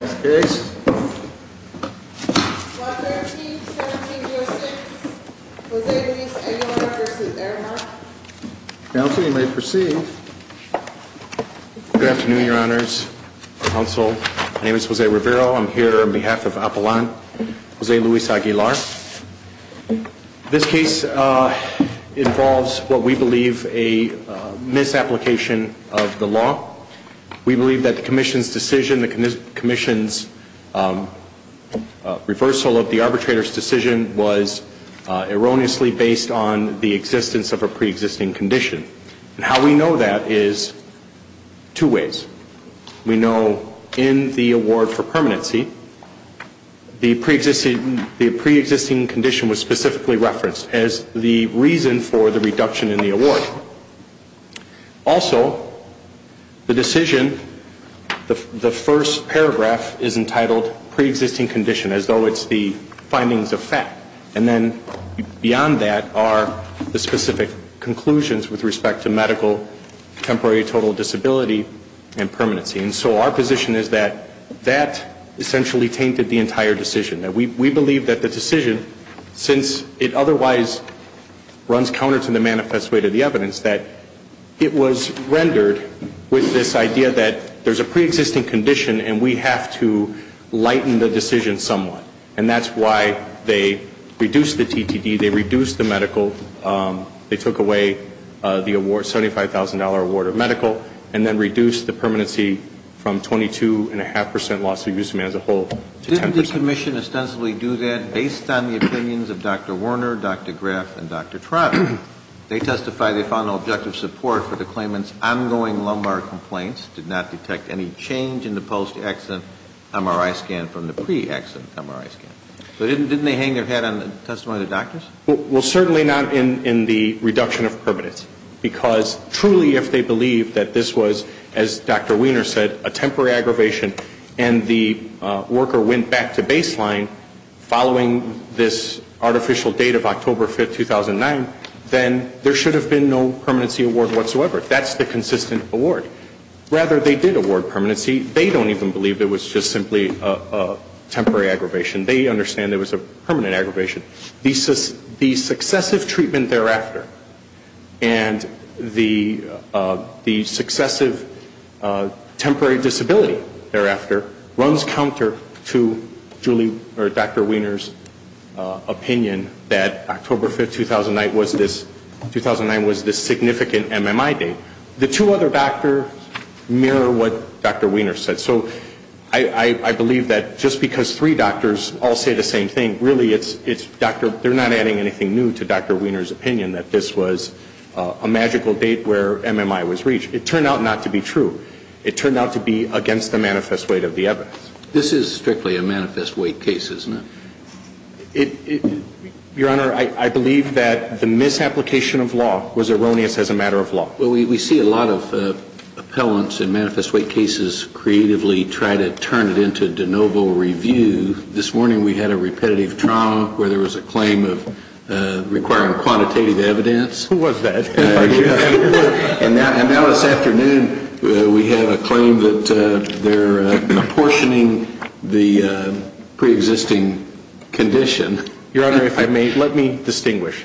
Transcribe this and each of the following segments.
This case involves what we believe a misapplication of the law. We believe that the Commission's reversal of the arbitrator's decision was erroneously based on the existence of a pre-existing condition. And how we know that is two ways. We know in the award for permanency, the pre-existing condition was specifically referenced as the reason for the reduction in the award. Also, the decision, the first paragraph is entitled pre-existing condition, as though it's the findings of fact. And then beyond that are the specific conclusions with respect to medical temporary total disability and permanency. And so our position is that that essentially tainted the entire decision. We believe that the decision, since it otherwise runs counter to the manifest way to the evidence, that it was rendered with this idea that there's a pre-existing condition and we have to lighten the decision somewhat. And that's why they reduced the TTD, they reduced the medical, they took away the award, $75,000 award of medical, and then reduced the permanency from 22.5% loss of use of man as a whole to 10%. Didn't the Commission ostensibly do that based on the opinions of Dr. Werner, Dr. Graf, and Dr. Trotter? They testified they found no objective support for the claimant's ongoing lumbar complaints, did not detect any change in the post-accident MRI scan from the pre-accident MRI scan. So didn't they hang their head on the testimony of the doctors? Well, certainly not in the reduction of permanency. Because truly if they believed that this was, as Dr. Weiner said, a temporary aggravation and the worker went back to baseline following this artificial date of October 5th, 2009, then there should have been no permanency award whatsoever. That's the consistent award. Rather, they did award permanency. They don't even believe it was just simply a temporary aggravation. They understand it was a permanent aggravation. The successive treatment thereafter and the successive temporary disability thereafter runs counter to Dr. Weiner's opinion that October 5th, 2009 was this significant MMI date. The two other doctors mirror what Dr. Weiner said. So I believe that just because three doctors all say the same thing, really it's Dr. – they're not adding anything new to Dr. Weiner's opinion that this was a magical date where MMI was reached. It turned out not to be true. It turned out to be against the manifest weight of the evidence. This is strictly a manifest weight case, isn't it? Your Honor, I believe that the misapplication of law was erroneous as a matter of law. Well, we see a lot of appellants in manifest weight cases creatively try to turn it into de novo review. This morning we had a repetitive trial where there was a claim of requiring quantitative evidence. Who was that? And now this afternoon we have a claim that they're apportioning the preexisting condition. Your Honor, if I may, let me distinguish.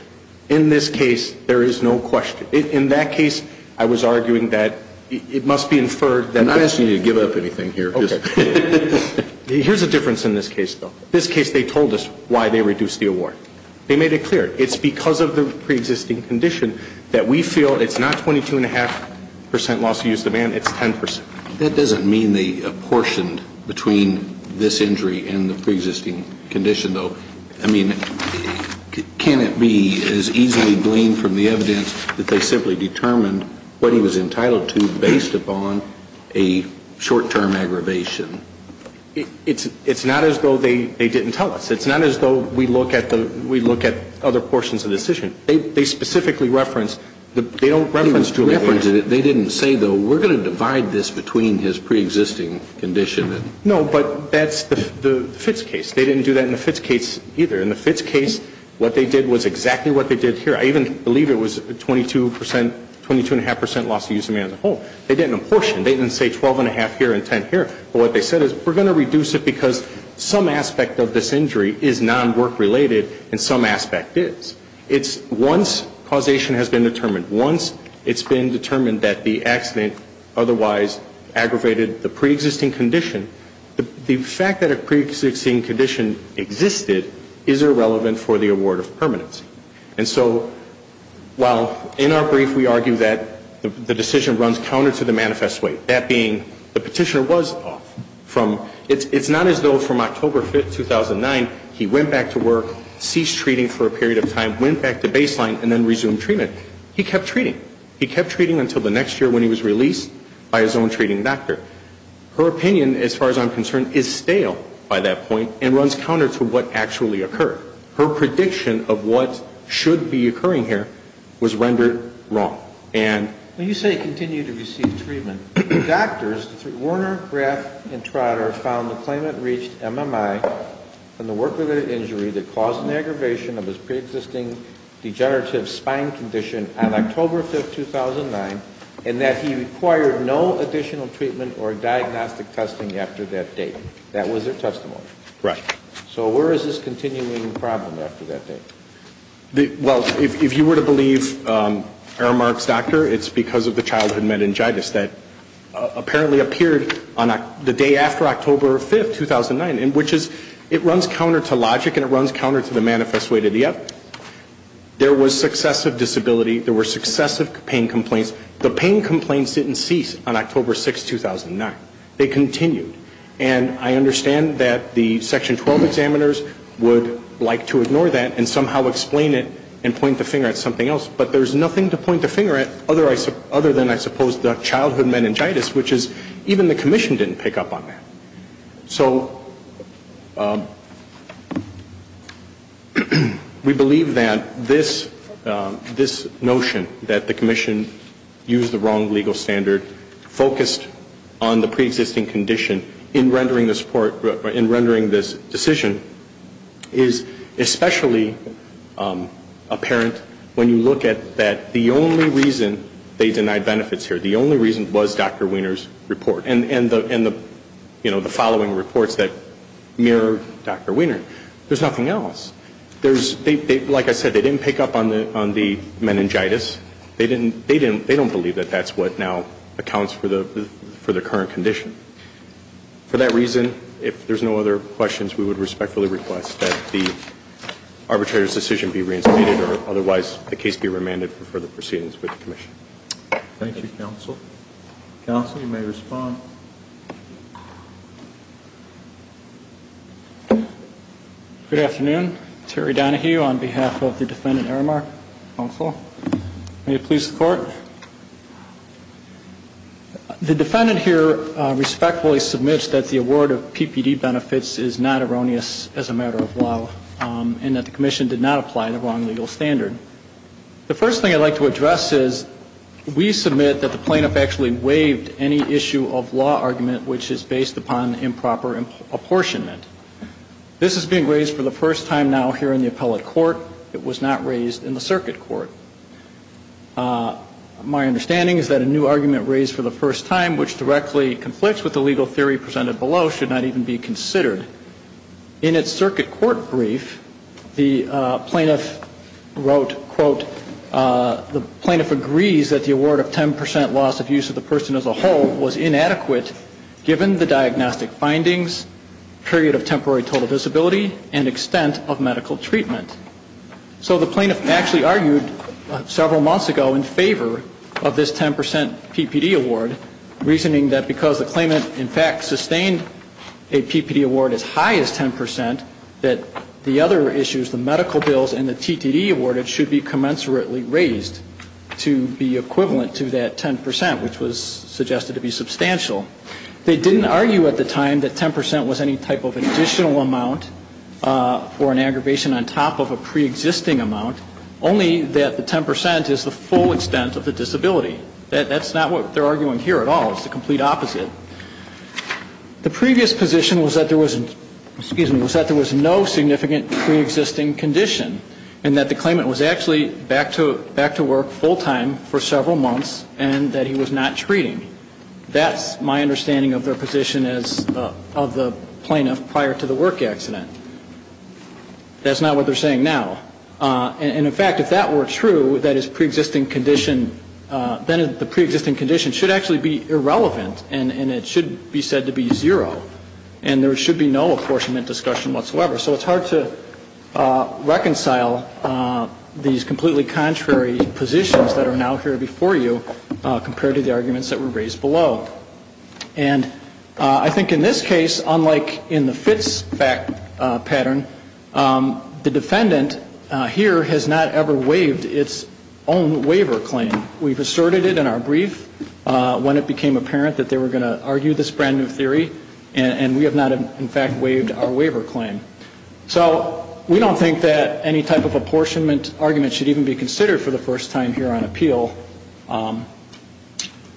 In this case, there is no question. In that case, I was arguing that it must be inferred that – I'm not asking you to give up anything here. Okay. Here's the difference in this case, though. In this case, they told us why they reduced the award. They made it clear. It's because of the preexisting condition that we feel it's not 22.5 percent loss of use of the man, it's 10 percent. That doesn't mean they apportioned between this injury and the preexisting condition, though. I mean, can it be as easily gleaned from the evidence that they simply determined what he was entitled to based upon a short-term aggravation? It's not as though they didn't tell us. It's not as though we look at other portions of the decision. They specifically reference – they don't reference – They didn't say, though, we're going to divide this between his preexisting condition and – No, but that's the Fitts case. They didn't do that in the Fitts case either. In the Fitts case, what they did was exactly what they did here. I even believe it was 22 percent – 22.5 percent loss of use of the man as a whole. They didn't apportion. They didn't say 12.5 here and 10 here. But what they said is we're going to reduce it because some aspect of this injury is non-work-related and some aspect is. It's once causation has been determined, once it's been determined that the accident otherwise aggravated the preexisting condition, the fact that a preexisting condition existed is irrelevant for the award of permanency. And so while in our brief we argue that the decision runs counter to the manifest weight, that being the petitioner was off from – for a period of time, went back to baseline, and then resumed treatment, he kept treating. He kept treating until the next year when he was released by his own treating doctor. Her opinion, as far as I'm concerned, is stale by that point and runs counter to what actually occurred. Her prediction of what should be occurring here was rendered wrong. And – When you say continue to receive treatment, doctors, Warner, Graff, and Trotter found the claimant reached MMI on the work-related injury that caused an aggravation of his preexisting degenerative spine condition on October 5, 2009, and that he required no additional treatment or diagnostic testing after that date. That was their testimony. Right. So where is this continuing problem after that date? Well, if you were to believe Aramark's doctor, it's because of the childhood meningitis that apparently appeared on the day after October 5, 2009, which is – it runs counter to logic and it runs counter to the manifest way to the evidence. There was successive disability. There were successive pain complaints. The pain complaints didn't cease on October 6, 2009. They continued. And I understand that the Section 12 examiners would like to ignore that and somehow explain it and point the finger at something else, but there's nothing to point the finger at other than, I suppose, the childhood meningitis, which is – even the Commission didn't pick up on that. So we believe that this notion that the Commission used the wrong legal standard, focused on the preexisting condition in rendering this decision, is especially apparent when you look at that the only reason they denied benefits here, the only reason was Dr. Wiener's report and the following reports that mirror Dr. Wiener. There's nothing else. Like I said, they didn't pick up on the meningitis. They don't believe that that's what now accounts for the current condition. For that reason, if there's no other questions, we would respectfully request that the arbitrator's decision be reinstated or otherwise the case be remanded for further proceedings with the Commission. Thank you, Counsel. Counsel, you may respond. Good afternoon. Terry Donohue on behalf of the Defendant Aramark. Counsel. May it please the Court. The Defendant here respectfully submits that the award of PPD benefits is not erroneous as a matter of law and that the Commission did not apply the wrong legal standard. The first thing I'd like to address is we submit that the plaintiff actually waived any issue of law argument which is based upon improper apportionment. This is being raised for the first time now here in the appellate court. It was not raised in the circuit court. My understanding is that a new argument raised for the first time, which directly conflicts with the legal theory presented below, should not even be considered. In its circuit court brief, the plaintiff wrote, quote, the plaintiff agrees that the award of 10% loss of use of the person as a whole was inadequate given the diagnostic findings, period of temporary total disability, and extent of medical treatment. So the plaintiff actually argued several months ago in favor of this 10% PPD award, reasoning that because the claimant, in fact, sustained a PPD award as high as 10%, that the other issues, the medical bills and the TTD awarded, should be commensurately raised to be equivalent to that 10%, which was suggested to be substantial. They didn't argue at the time that 10% was any type of additional amount for an aggravation on top of a preexisting amount, only that the 10% is the full extent of the disability. That's not what they're arguing here at all. It's the complete opposite. The previous position was that there was no significant preexisting condition and that the claimant was actually back to work full time for several months and that he was not treating. That's my understanding of their position as of the plaintiff prior to the work accident. That's not what they're saying now. And, in fact, if that were true, then the preexisting condition should actually be irrelevant and it should be said to be zero and there should be no apportionment discussion whatsoever. So it's hard to reconcile these completely contrary positions that are now here before you compared to the arguments that were raised below. And I think in this case, unlike in the Fitzpatrick pattern, the defendant here has not ever waived its own waiver claim. We've asserted it in our brief when it became apparent that they were going to argue this brand new theory and we have not, in fact, waived our waiver claim. So we don't think that any type of apportionment argument should even be considered for the first time here on appeal.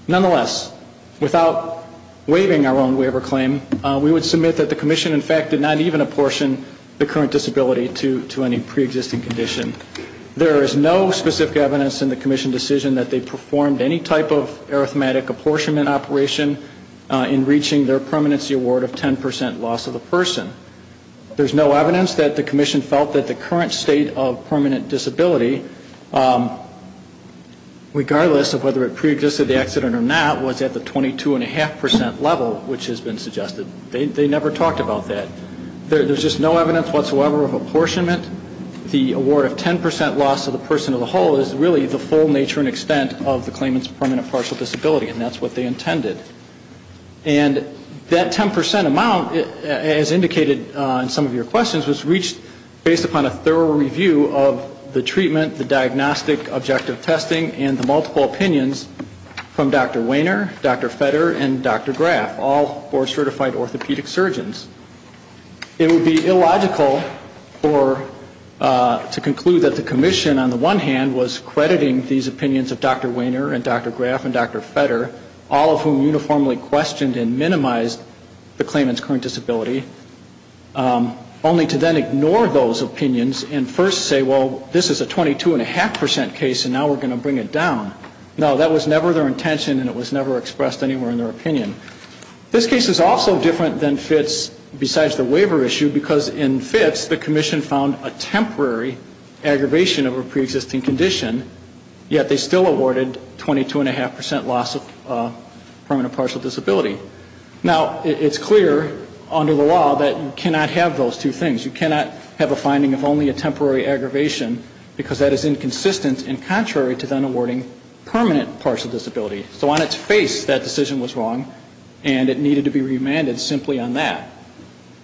Nonetheless, without waiving our own waiver claim, we would submit that the Commission, in fact, did not even apportion the current disability to any preexisting condition. There is no specific evidence in the Commission decision that they performed any type of arithmetic apportionment operation in reaching their permanency award of 10% loss of the person. There's no evidence that the Commission felt that the current state of permanent disability regardless of whether it preexisted the accident or not, was at the 22.5% level which has been suggested. They never talked about that. There's just no evidence whatsoever of apportionment. The award of 10% loss of the person as a whole is really the full nature and extent of the claimant's permanent partial disability and that's what they intended. And that 10% amount, as indicated in some of your questions, was reached based upon a thorough review of the treatment, the diagnostic objective testing and the multiple opinions from Dr. Wehner, Dr. Fetter and Dr. Graf, all board-certified orthopedic surgeons. It would be illogical to conclude that the Commission, on the one hand, was crediting these opinions of Dr. Wehner and Dr. Graf and Dr. Fetter, all of whom uniformly questioned and minimized the claimant's current disability, only to then ignore those opinions and first say, well, this is a 22.5% case and now we're going to bring it down. No, that was never their intention and it was never expressed anywhere in their opinion. This case is also different than Fitz besides the waiver issue because in Fitz, the Commission found a temporary aggravation of a preexisting condition, yet they still awarded 22.5% loss of permanent partial disability. Now, it's clear under the law that you cannot have those two things. You cannot have a finding of only a temporary aggravation because that is inconsistent and contrary to then awarding permanent partial disability. So on its face, that decision was wrong and it needed to be remanded simply on that.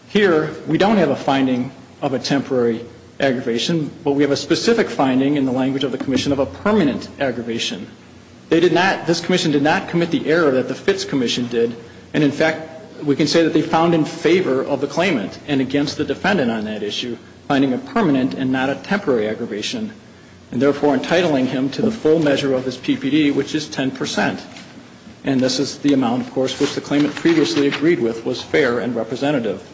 Here, we don't have a finding of a temporary aggravation, but we have a specific finding in the language of the Commission of a permanent aggravation. They did not, this Commission did not commit the error that the Fitz Commission did, and in fact, we can say that they found in favor of the claimant and against the defendant on that issue, finding a permanent and not a temporary aggravation, and therefore entitling him to the full measure of his PPD, which is 10%. And this is the amount, of course, which the claimant previously agreed with was fair and representative.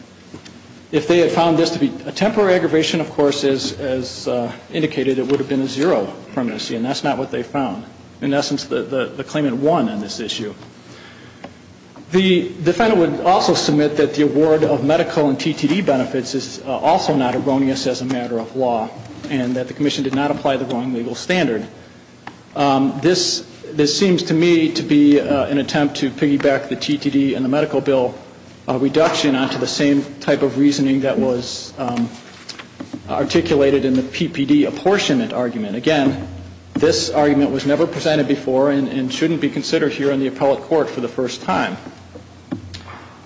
If they had found this to be a temporary aggravation, of course, as indicated, it would have been a zero permanency, and that's not what they found. In essence, the claimant won on this issue. The defendant would also submit that the award of medical and TTD benefits is also not erroneous as a matter of law and that the Commission did not apply the wrong legal standard. This seems to me to be an attempt to piggyback the TTD and the medical bill reduction onto the same type of reasoning that was articulated in the PPD apportionment argument. Again, this argument was never presented before and shouldn't be considered here in the appellate court for the first time.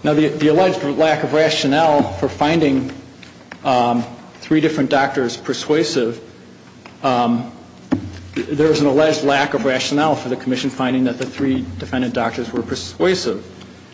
Now, the alleged lack of rationale for finding three different doctors persuasive, there's an alleged lack of rationale for the Commission finding that the three defendant doctors were persuasive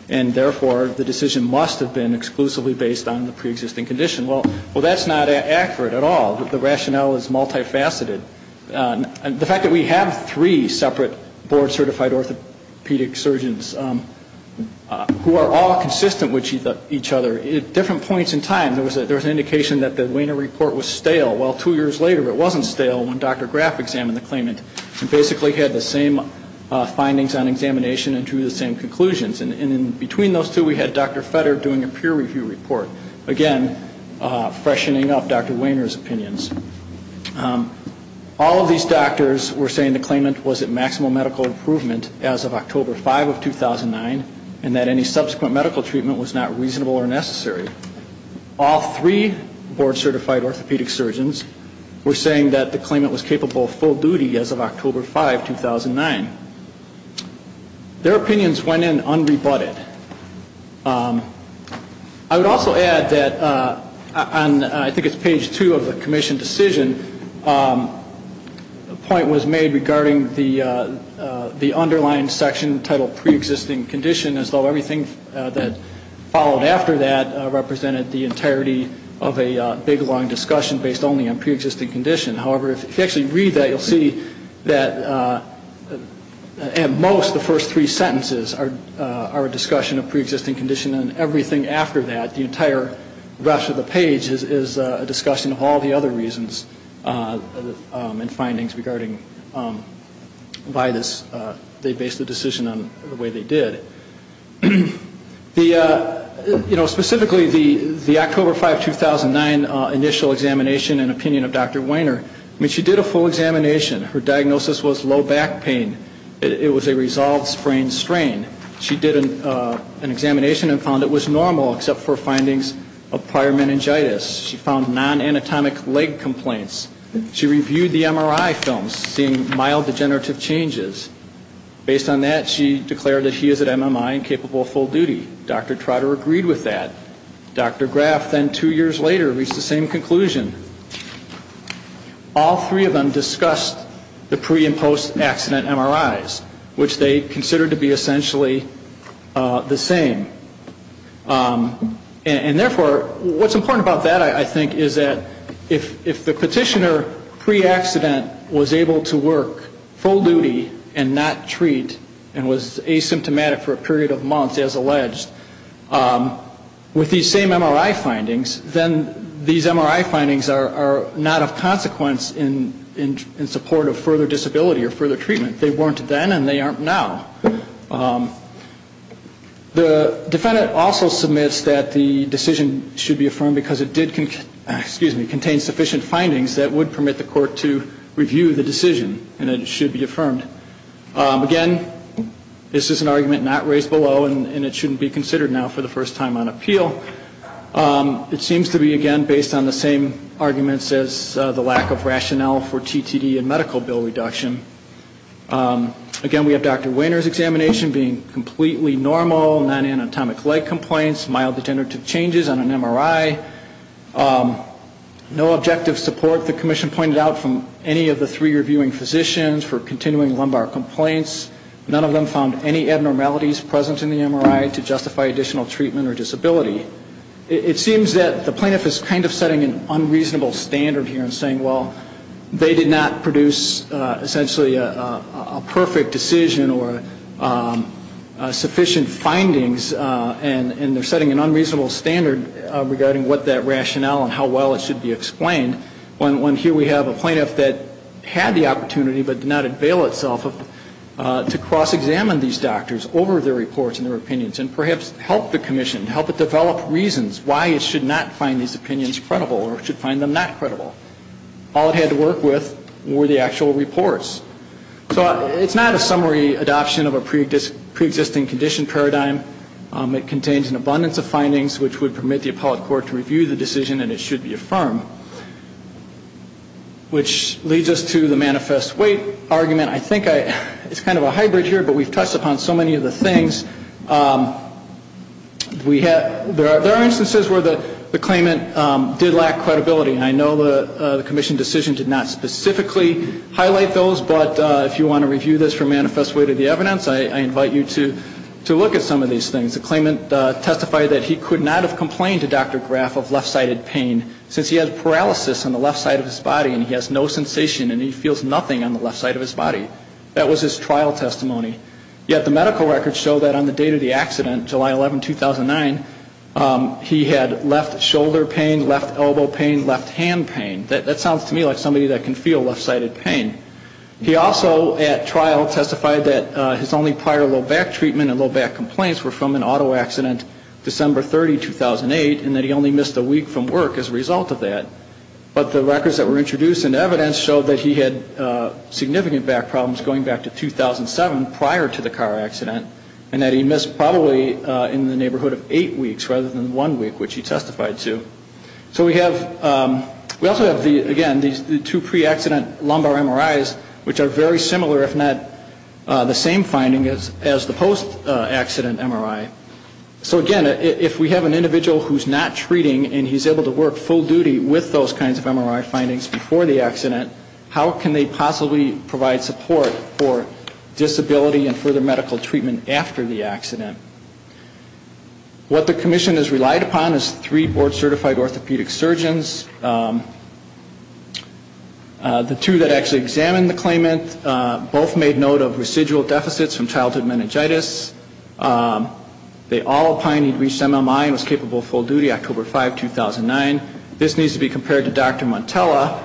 and therefore the decision must have been exclusively based on the preexisting condition. Well, that's not accurate at all. The rationale is multifaceted. The fact that we have three separate board-certified orthopedic surgeons who are all consistent with each other, at different points in time there was an indication that the Wiener report was stale. Well, two years later it wasn't stale when Dr. Graf examined the claimant and basically had the same findings on examination and drew the same conclusions. And in between those two we had Dr. Fetter doing a peer review report, again, freshening up Dr. Wiener's opinions. All of these doctors were saying the claimant was at maximal medical improvement as of October 5 of 2009 and that any subsequent medical treatment was not reasonable or necessary. All three board-certified orthopedic surgeons were saying that the claimant was capable of full duty as of October 5, 2009. Their opinions went in unrebutted. I would also add that on I think it's page two of the Commission decision, a point was made regarding the underlying section titled preexisting condition, as though everything that followed after that represented the entirety of a big, long discussion based only on preexisting condition. However, if you actually read that, you'll see that at most the first three sentences are a discussion of preexisting condition and everything after that, the entire rest of the page is a discussion of all the other reasons and findings regarding why they based the decision on the way they did. The, you know, specifically the October 5, 2009 initial examination and opinion of Dr. Wiener, I mean, she did a full examination. Her diagnosis was low back pain. It was a resolved sprained strain. She did an examination and found it was normal except for findings of prior meningitis. She found non-anatomic leg complaints. She reviewed the MRI films, seeing mild degenerative changes. Based on that, she declared that she is at MMI and capable of full duty. Dr. Trotter agreed with that. Dr. Graff then two years later reached the same conclusion. All three of them discussed the pre and post-accident MRIs, which they considered to be essentially the same. And, therefore, what's important about that, I think, is that if the petitioner pre-accident was able to work full duty and not treat and was asymptomatic for a period of months, as alleged, with these same MRI findings, then these MRI findings are not of consequence in support of further disability or further treatment. They weren't then and they aren't now. The defendant also submits that the decision should be affirmed because it did contain sufficient findings that would permit the court to review the decision and that it should be affirmed. Again, this is an argument not raised below and it shouldn't be considered now for the first time on appeal. It seems to be, again, based on the same arguments as the lack of rationale for TTD and medical bill reduction. Again, we have Dr. Wehner's examination being completely normal, non-anatomic leg complaints, mild degenerative changes on an MRI. No objective support, the commission pointed out, from any of the three reviewing physicians for continuing lumbar complaints. None of them found any abnormalities present in the MRI to justify additional treatment or disability. It seems that the plaintiff is kind of setting an unreasonable standard here and saying, well, they did not produce essentially a perfect decision or sufficient findings, and they're setting an unreasonable standard regarding what that rationale and how well it should be explained, when here we have a plaintiff that had the opportunity but did not avail itself to cross-examine these doctors over their reports and their opinions and perhaps help the commission, help it develop reasons why it should not find these opinions credible or should find them not credible. All it had to work with were the actual reports. So it's not a summary adoption of a preexisting condition paradigm. It contains an abundance of findings, which would permit the appellate court to review the decision and it should be affirmed, which leads us to the manifest weight argument. Again, I think it's kind of a hybrid here, but we've touched upon so many of the things. There are instances where the claimant did lack credibility, and I know the commission decision did not specifically highlight those, but if you want to review this for manifest weight of the evidence, I invite you to look at some of these things. The claimant testified that he could not have complained to Dr. Graf of left-sided pain, since he has paralysis on the left side of his body and he has no sensation and he feels nothing on the left side of his body. That was his trial testimony. Yet the medical records show that on the date of the accident, July 11, 2009, he had left shoulder pain, left elbow pain, left hand pain. That sounds to me like somebody that can feel left-sided pain. He also at trial testified that his only prior low-back treatment and low-back complaints were from an auto accident December 30, 2008, and that he only missed a week from work as a result of that. But the records that were introduced in evidence show that he had significant back problems going back to 2007, prior to the car accident, and that he missed probably in the neighborhood of eight weeks rather than one week, which he testified to. So we have, we also have the, again, the two pre-accident lumbar MRIs, which are very similar, if not the same finding as the post-accident MRI. So again, if we have an individual who's not treating and he's able to work full duty with those kinds of MRI findings before the accident, how can they possibly provide support for disability and further medical treatment after the accident? What the commission has relied upon is three board-certified orthopedic surgeons. The two that actually examined the claimant both made note of residual deficits from childhood meningitis. They all opined he'd reached MMI and was capable of full duty October 5, 2009. This needs to be compared to Dr. Montella.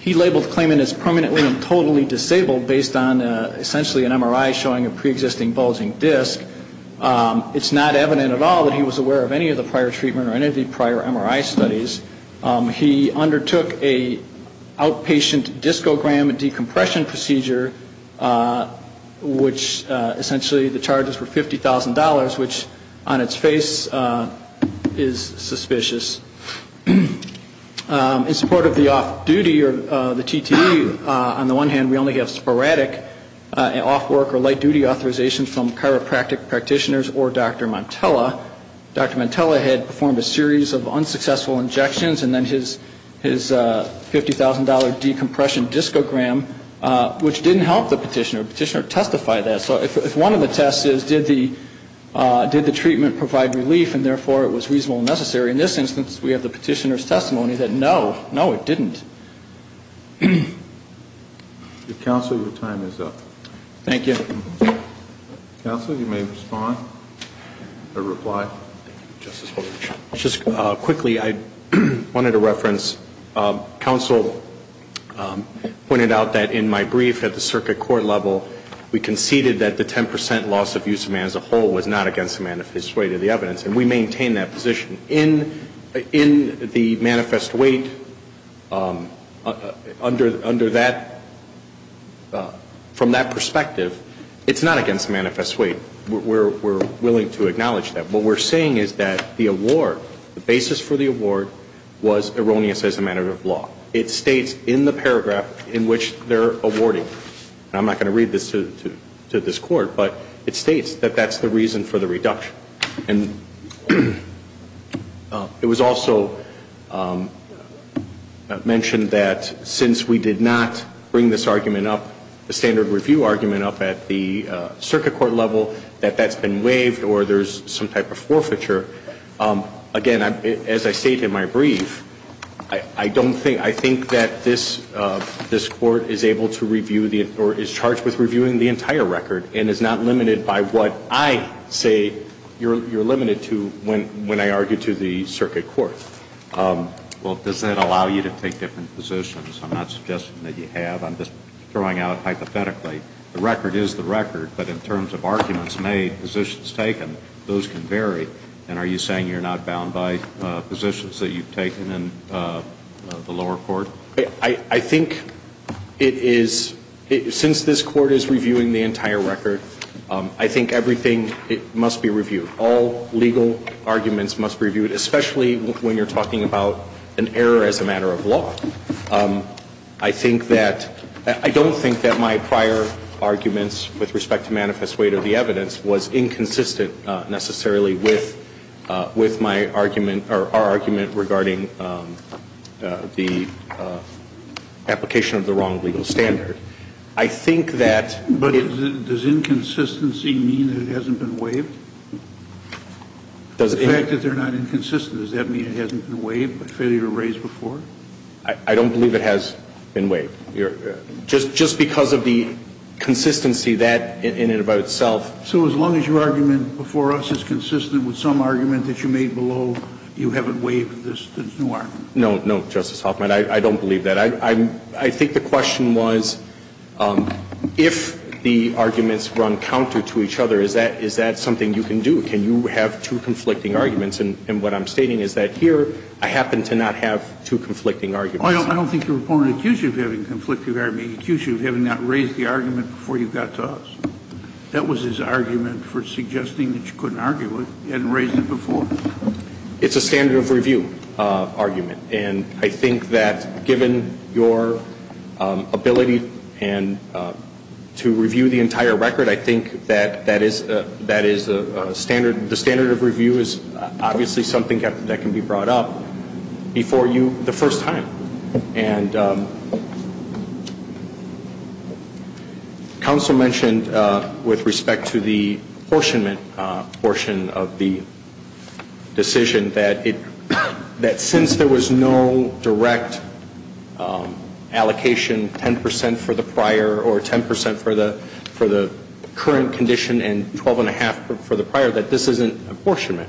He labeled the claimant as permanently and totally disabled based on essentially an MRI showing a preexisting bulging disc. It's not evident at all that he was aware of any of the prior treatment or any of the prior MRI studies. He undertook an outpatient discogram and decompression procedure, which essentially the charges were $50,000, which on its face is suspicious. In support of the off-duty or the TTE, on the one hand, we only have sporadic off-work or light-duty authorizations from chiropractic practitioners or Dr. Montella. Dr. Montella had performed a series of unsuccessful injections and then his $50,000 decompression discogram, which didn't have any effect. It didn't help the petitioner. The petitioner testified that. So if one of the tests is did the treatment provide relief and therefore it was reasonable and necessary, in this instance, we have the petitioner's testimony that no, no, it didn't. Counsel, your time is up. Thank you. Counsel, you may respond or reply. Just quickly, I wanted to reference, counsel pointed out that in my brief at the circuit court level, we conceded that the 10% loss of use of man as a whole was not against the manifest weight of the evidence, and we maintain that position. In the manifest weight, under that, from that perspective, the 10% loss of use of man as a whole was not against the manifest weight of the evidence. It's not against the manifest weight. We're willing to acknowledge that. What we're saying is that the award, the basis for the award, was erroneous as a matter of law. It states in the paragraph in which they're awarding, and I'm not going to read this to this court, but it states that that's the reason for the reduction. And it was also mentioned that since we did not bring this argument up, the standard review argument up at the circuit court level, that that's been waived or there's some type of forfeiture. Again, as I stated in my brief, I don't think, I think that this court is able to review the, or is charged with reviewing the entire record and is not limited by what I say you're limited to when I argue to the circuit court. Well, does that allow you to take different positions? I'm not suggesting that you have. I'm just throwing out hypothetically, the record is the record, but in terms of arguments made, positions taken, those can vary. And are you saying you're not bound by positions that you've taken in the lower court? I think it is, since this court is reviewing the entire record, I think everything must be reviewed. All legal arguments must be reviewed, especially when you're talking about an error as a matter of law. I think that, I don't think that my prior arguments with respect to manifest weight of the evidence was inconsistent, necessarily, with my argument, or our argument regarding the application of the wrong legal standard. I think that... But does inconsistency mean it hasn't been waived? The fact that they're not inconsistent, does that mean it hasn't been waived? I don't believe it has been waived. Just because of the consistency, that in and of itself... So as long as your argument before us is consistent with some argument that you made below, you haven't waived this new argument? No, no, Justice Hoffman, I don't believe that. I think the question was, if the arguments run counter to each other, is that something you can do? Can you have two conflicting arguments? And what I'm stating is that here, I happen to not have two conflicting arguments. I don't think you're a prone accuser of having a conflicting argument. You're an accuser of having not raised the argument before you got to us. That was his argument for suggesting that you couldn't argue it. You hadn't raised it before. It's a standard of review argument, and I think that given your ability to review the entire record, I think that that is a standard. The standard of review is obviously something that can be brought up before you the first time. And counsel mentioned with respect to the apportionment portion of the decision, that since there was no direct allocation, 10 percent for the prior or 10 percent for the current condition and 12 and a half for the prior, that this isn't apportionment.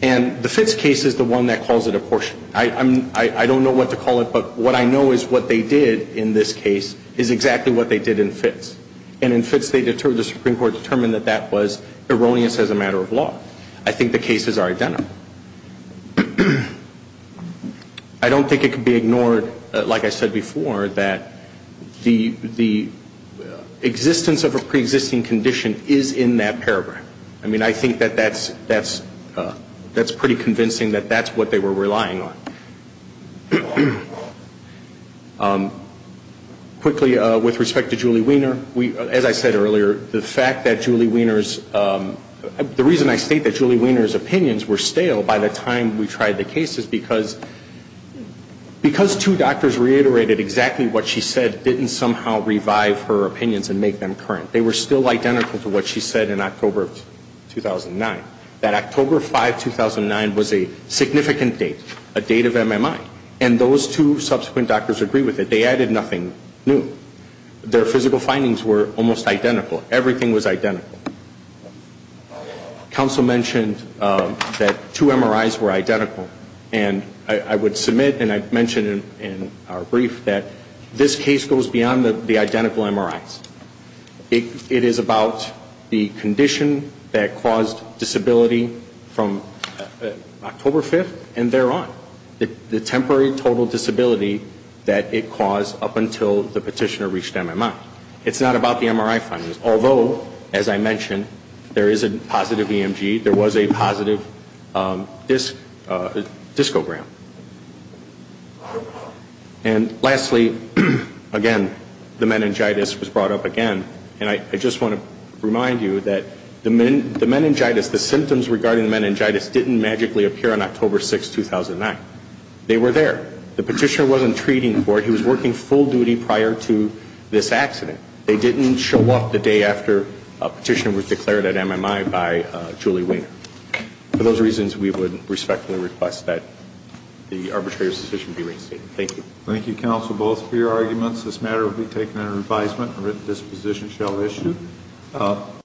And the Fitz case is the one that calls it apportionment. I don't know what to call it, but what I know is what they did in this case is exactly what they did in Fitz. And in Fitz, the Supreme Court determined that that was erroneous as a matter of law. I think the cases are identical. I don't think it can be ignored, like I said before, that the existence of a preexisting condition is in that paragraph. I mean, I think that that's pretty convincing that that's what they were relying on. Quickly, with respect to Julie Wiener, as I said earlier, the fact that Julie Wiener's, the reason I state that Julie Wiener's opinions were stale by the time we tried the case is because two doctors reiterated exactly what she said didn't somehow revive her opinions and make them current. They were still identical to what she said in October of 2009. That October 5, 2009 was a significant date, a date of MMI, and those two subsequent doctors agreed with it. They added nothing new. Their physical findings were almost identical. Everything was identical. Counsel mentioned that two MRIs were identical, and I would submit, and I mentioned in our brief, that this case goes beyond the MMI. It is about the condition that caused disability from October 5 and thereon, the temporary total disability that it caused up until the petitioner reached MMI. It's not about the MRI findings, although, as I mentioned, there is a positive EMG. There was a positive discogram. And lastly, again, the meningitis was brought up again, and I just want to remind you that the meningitis, the symptoms regarding the meningitis didn't magically appear on October 6, 2009. They were there. The petitioner wasn't treating for it. He was working full duty prior to this accident. They didn't show up the day after a petitioner was declared at MMI by Julie Wiener. For those reasons, we would respectfully request that the arbitrator's decision be received. Thank you. Thank you, counsel, both, for your arguments. This matter will be taken under advisement and written disposition shall issue.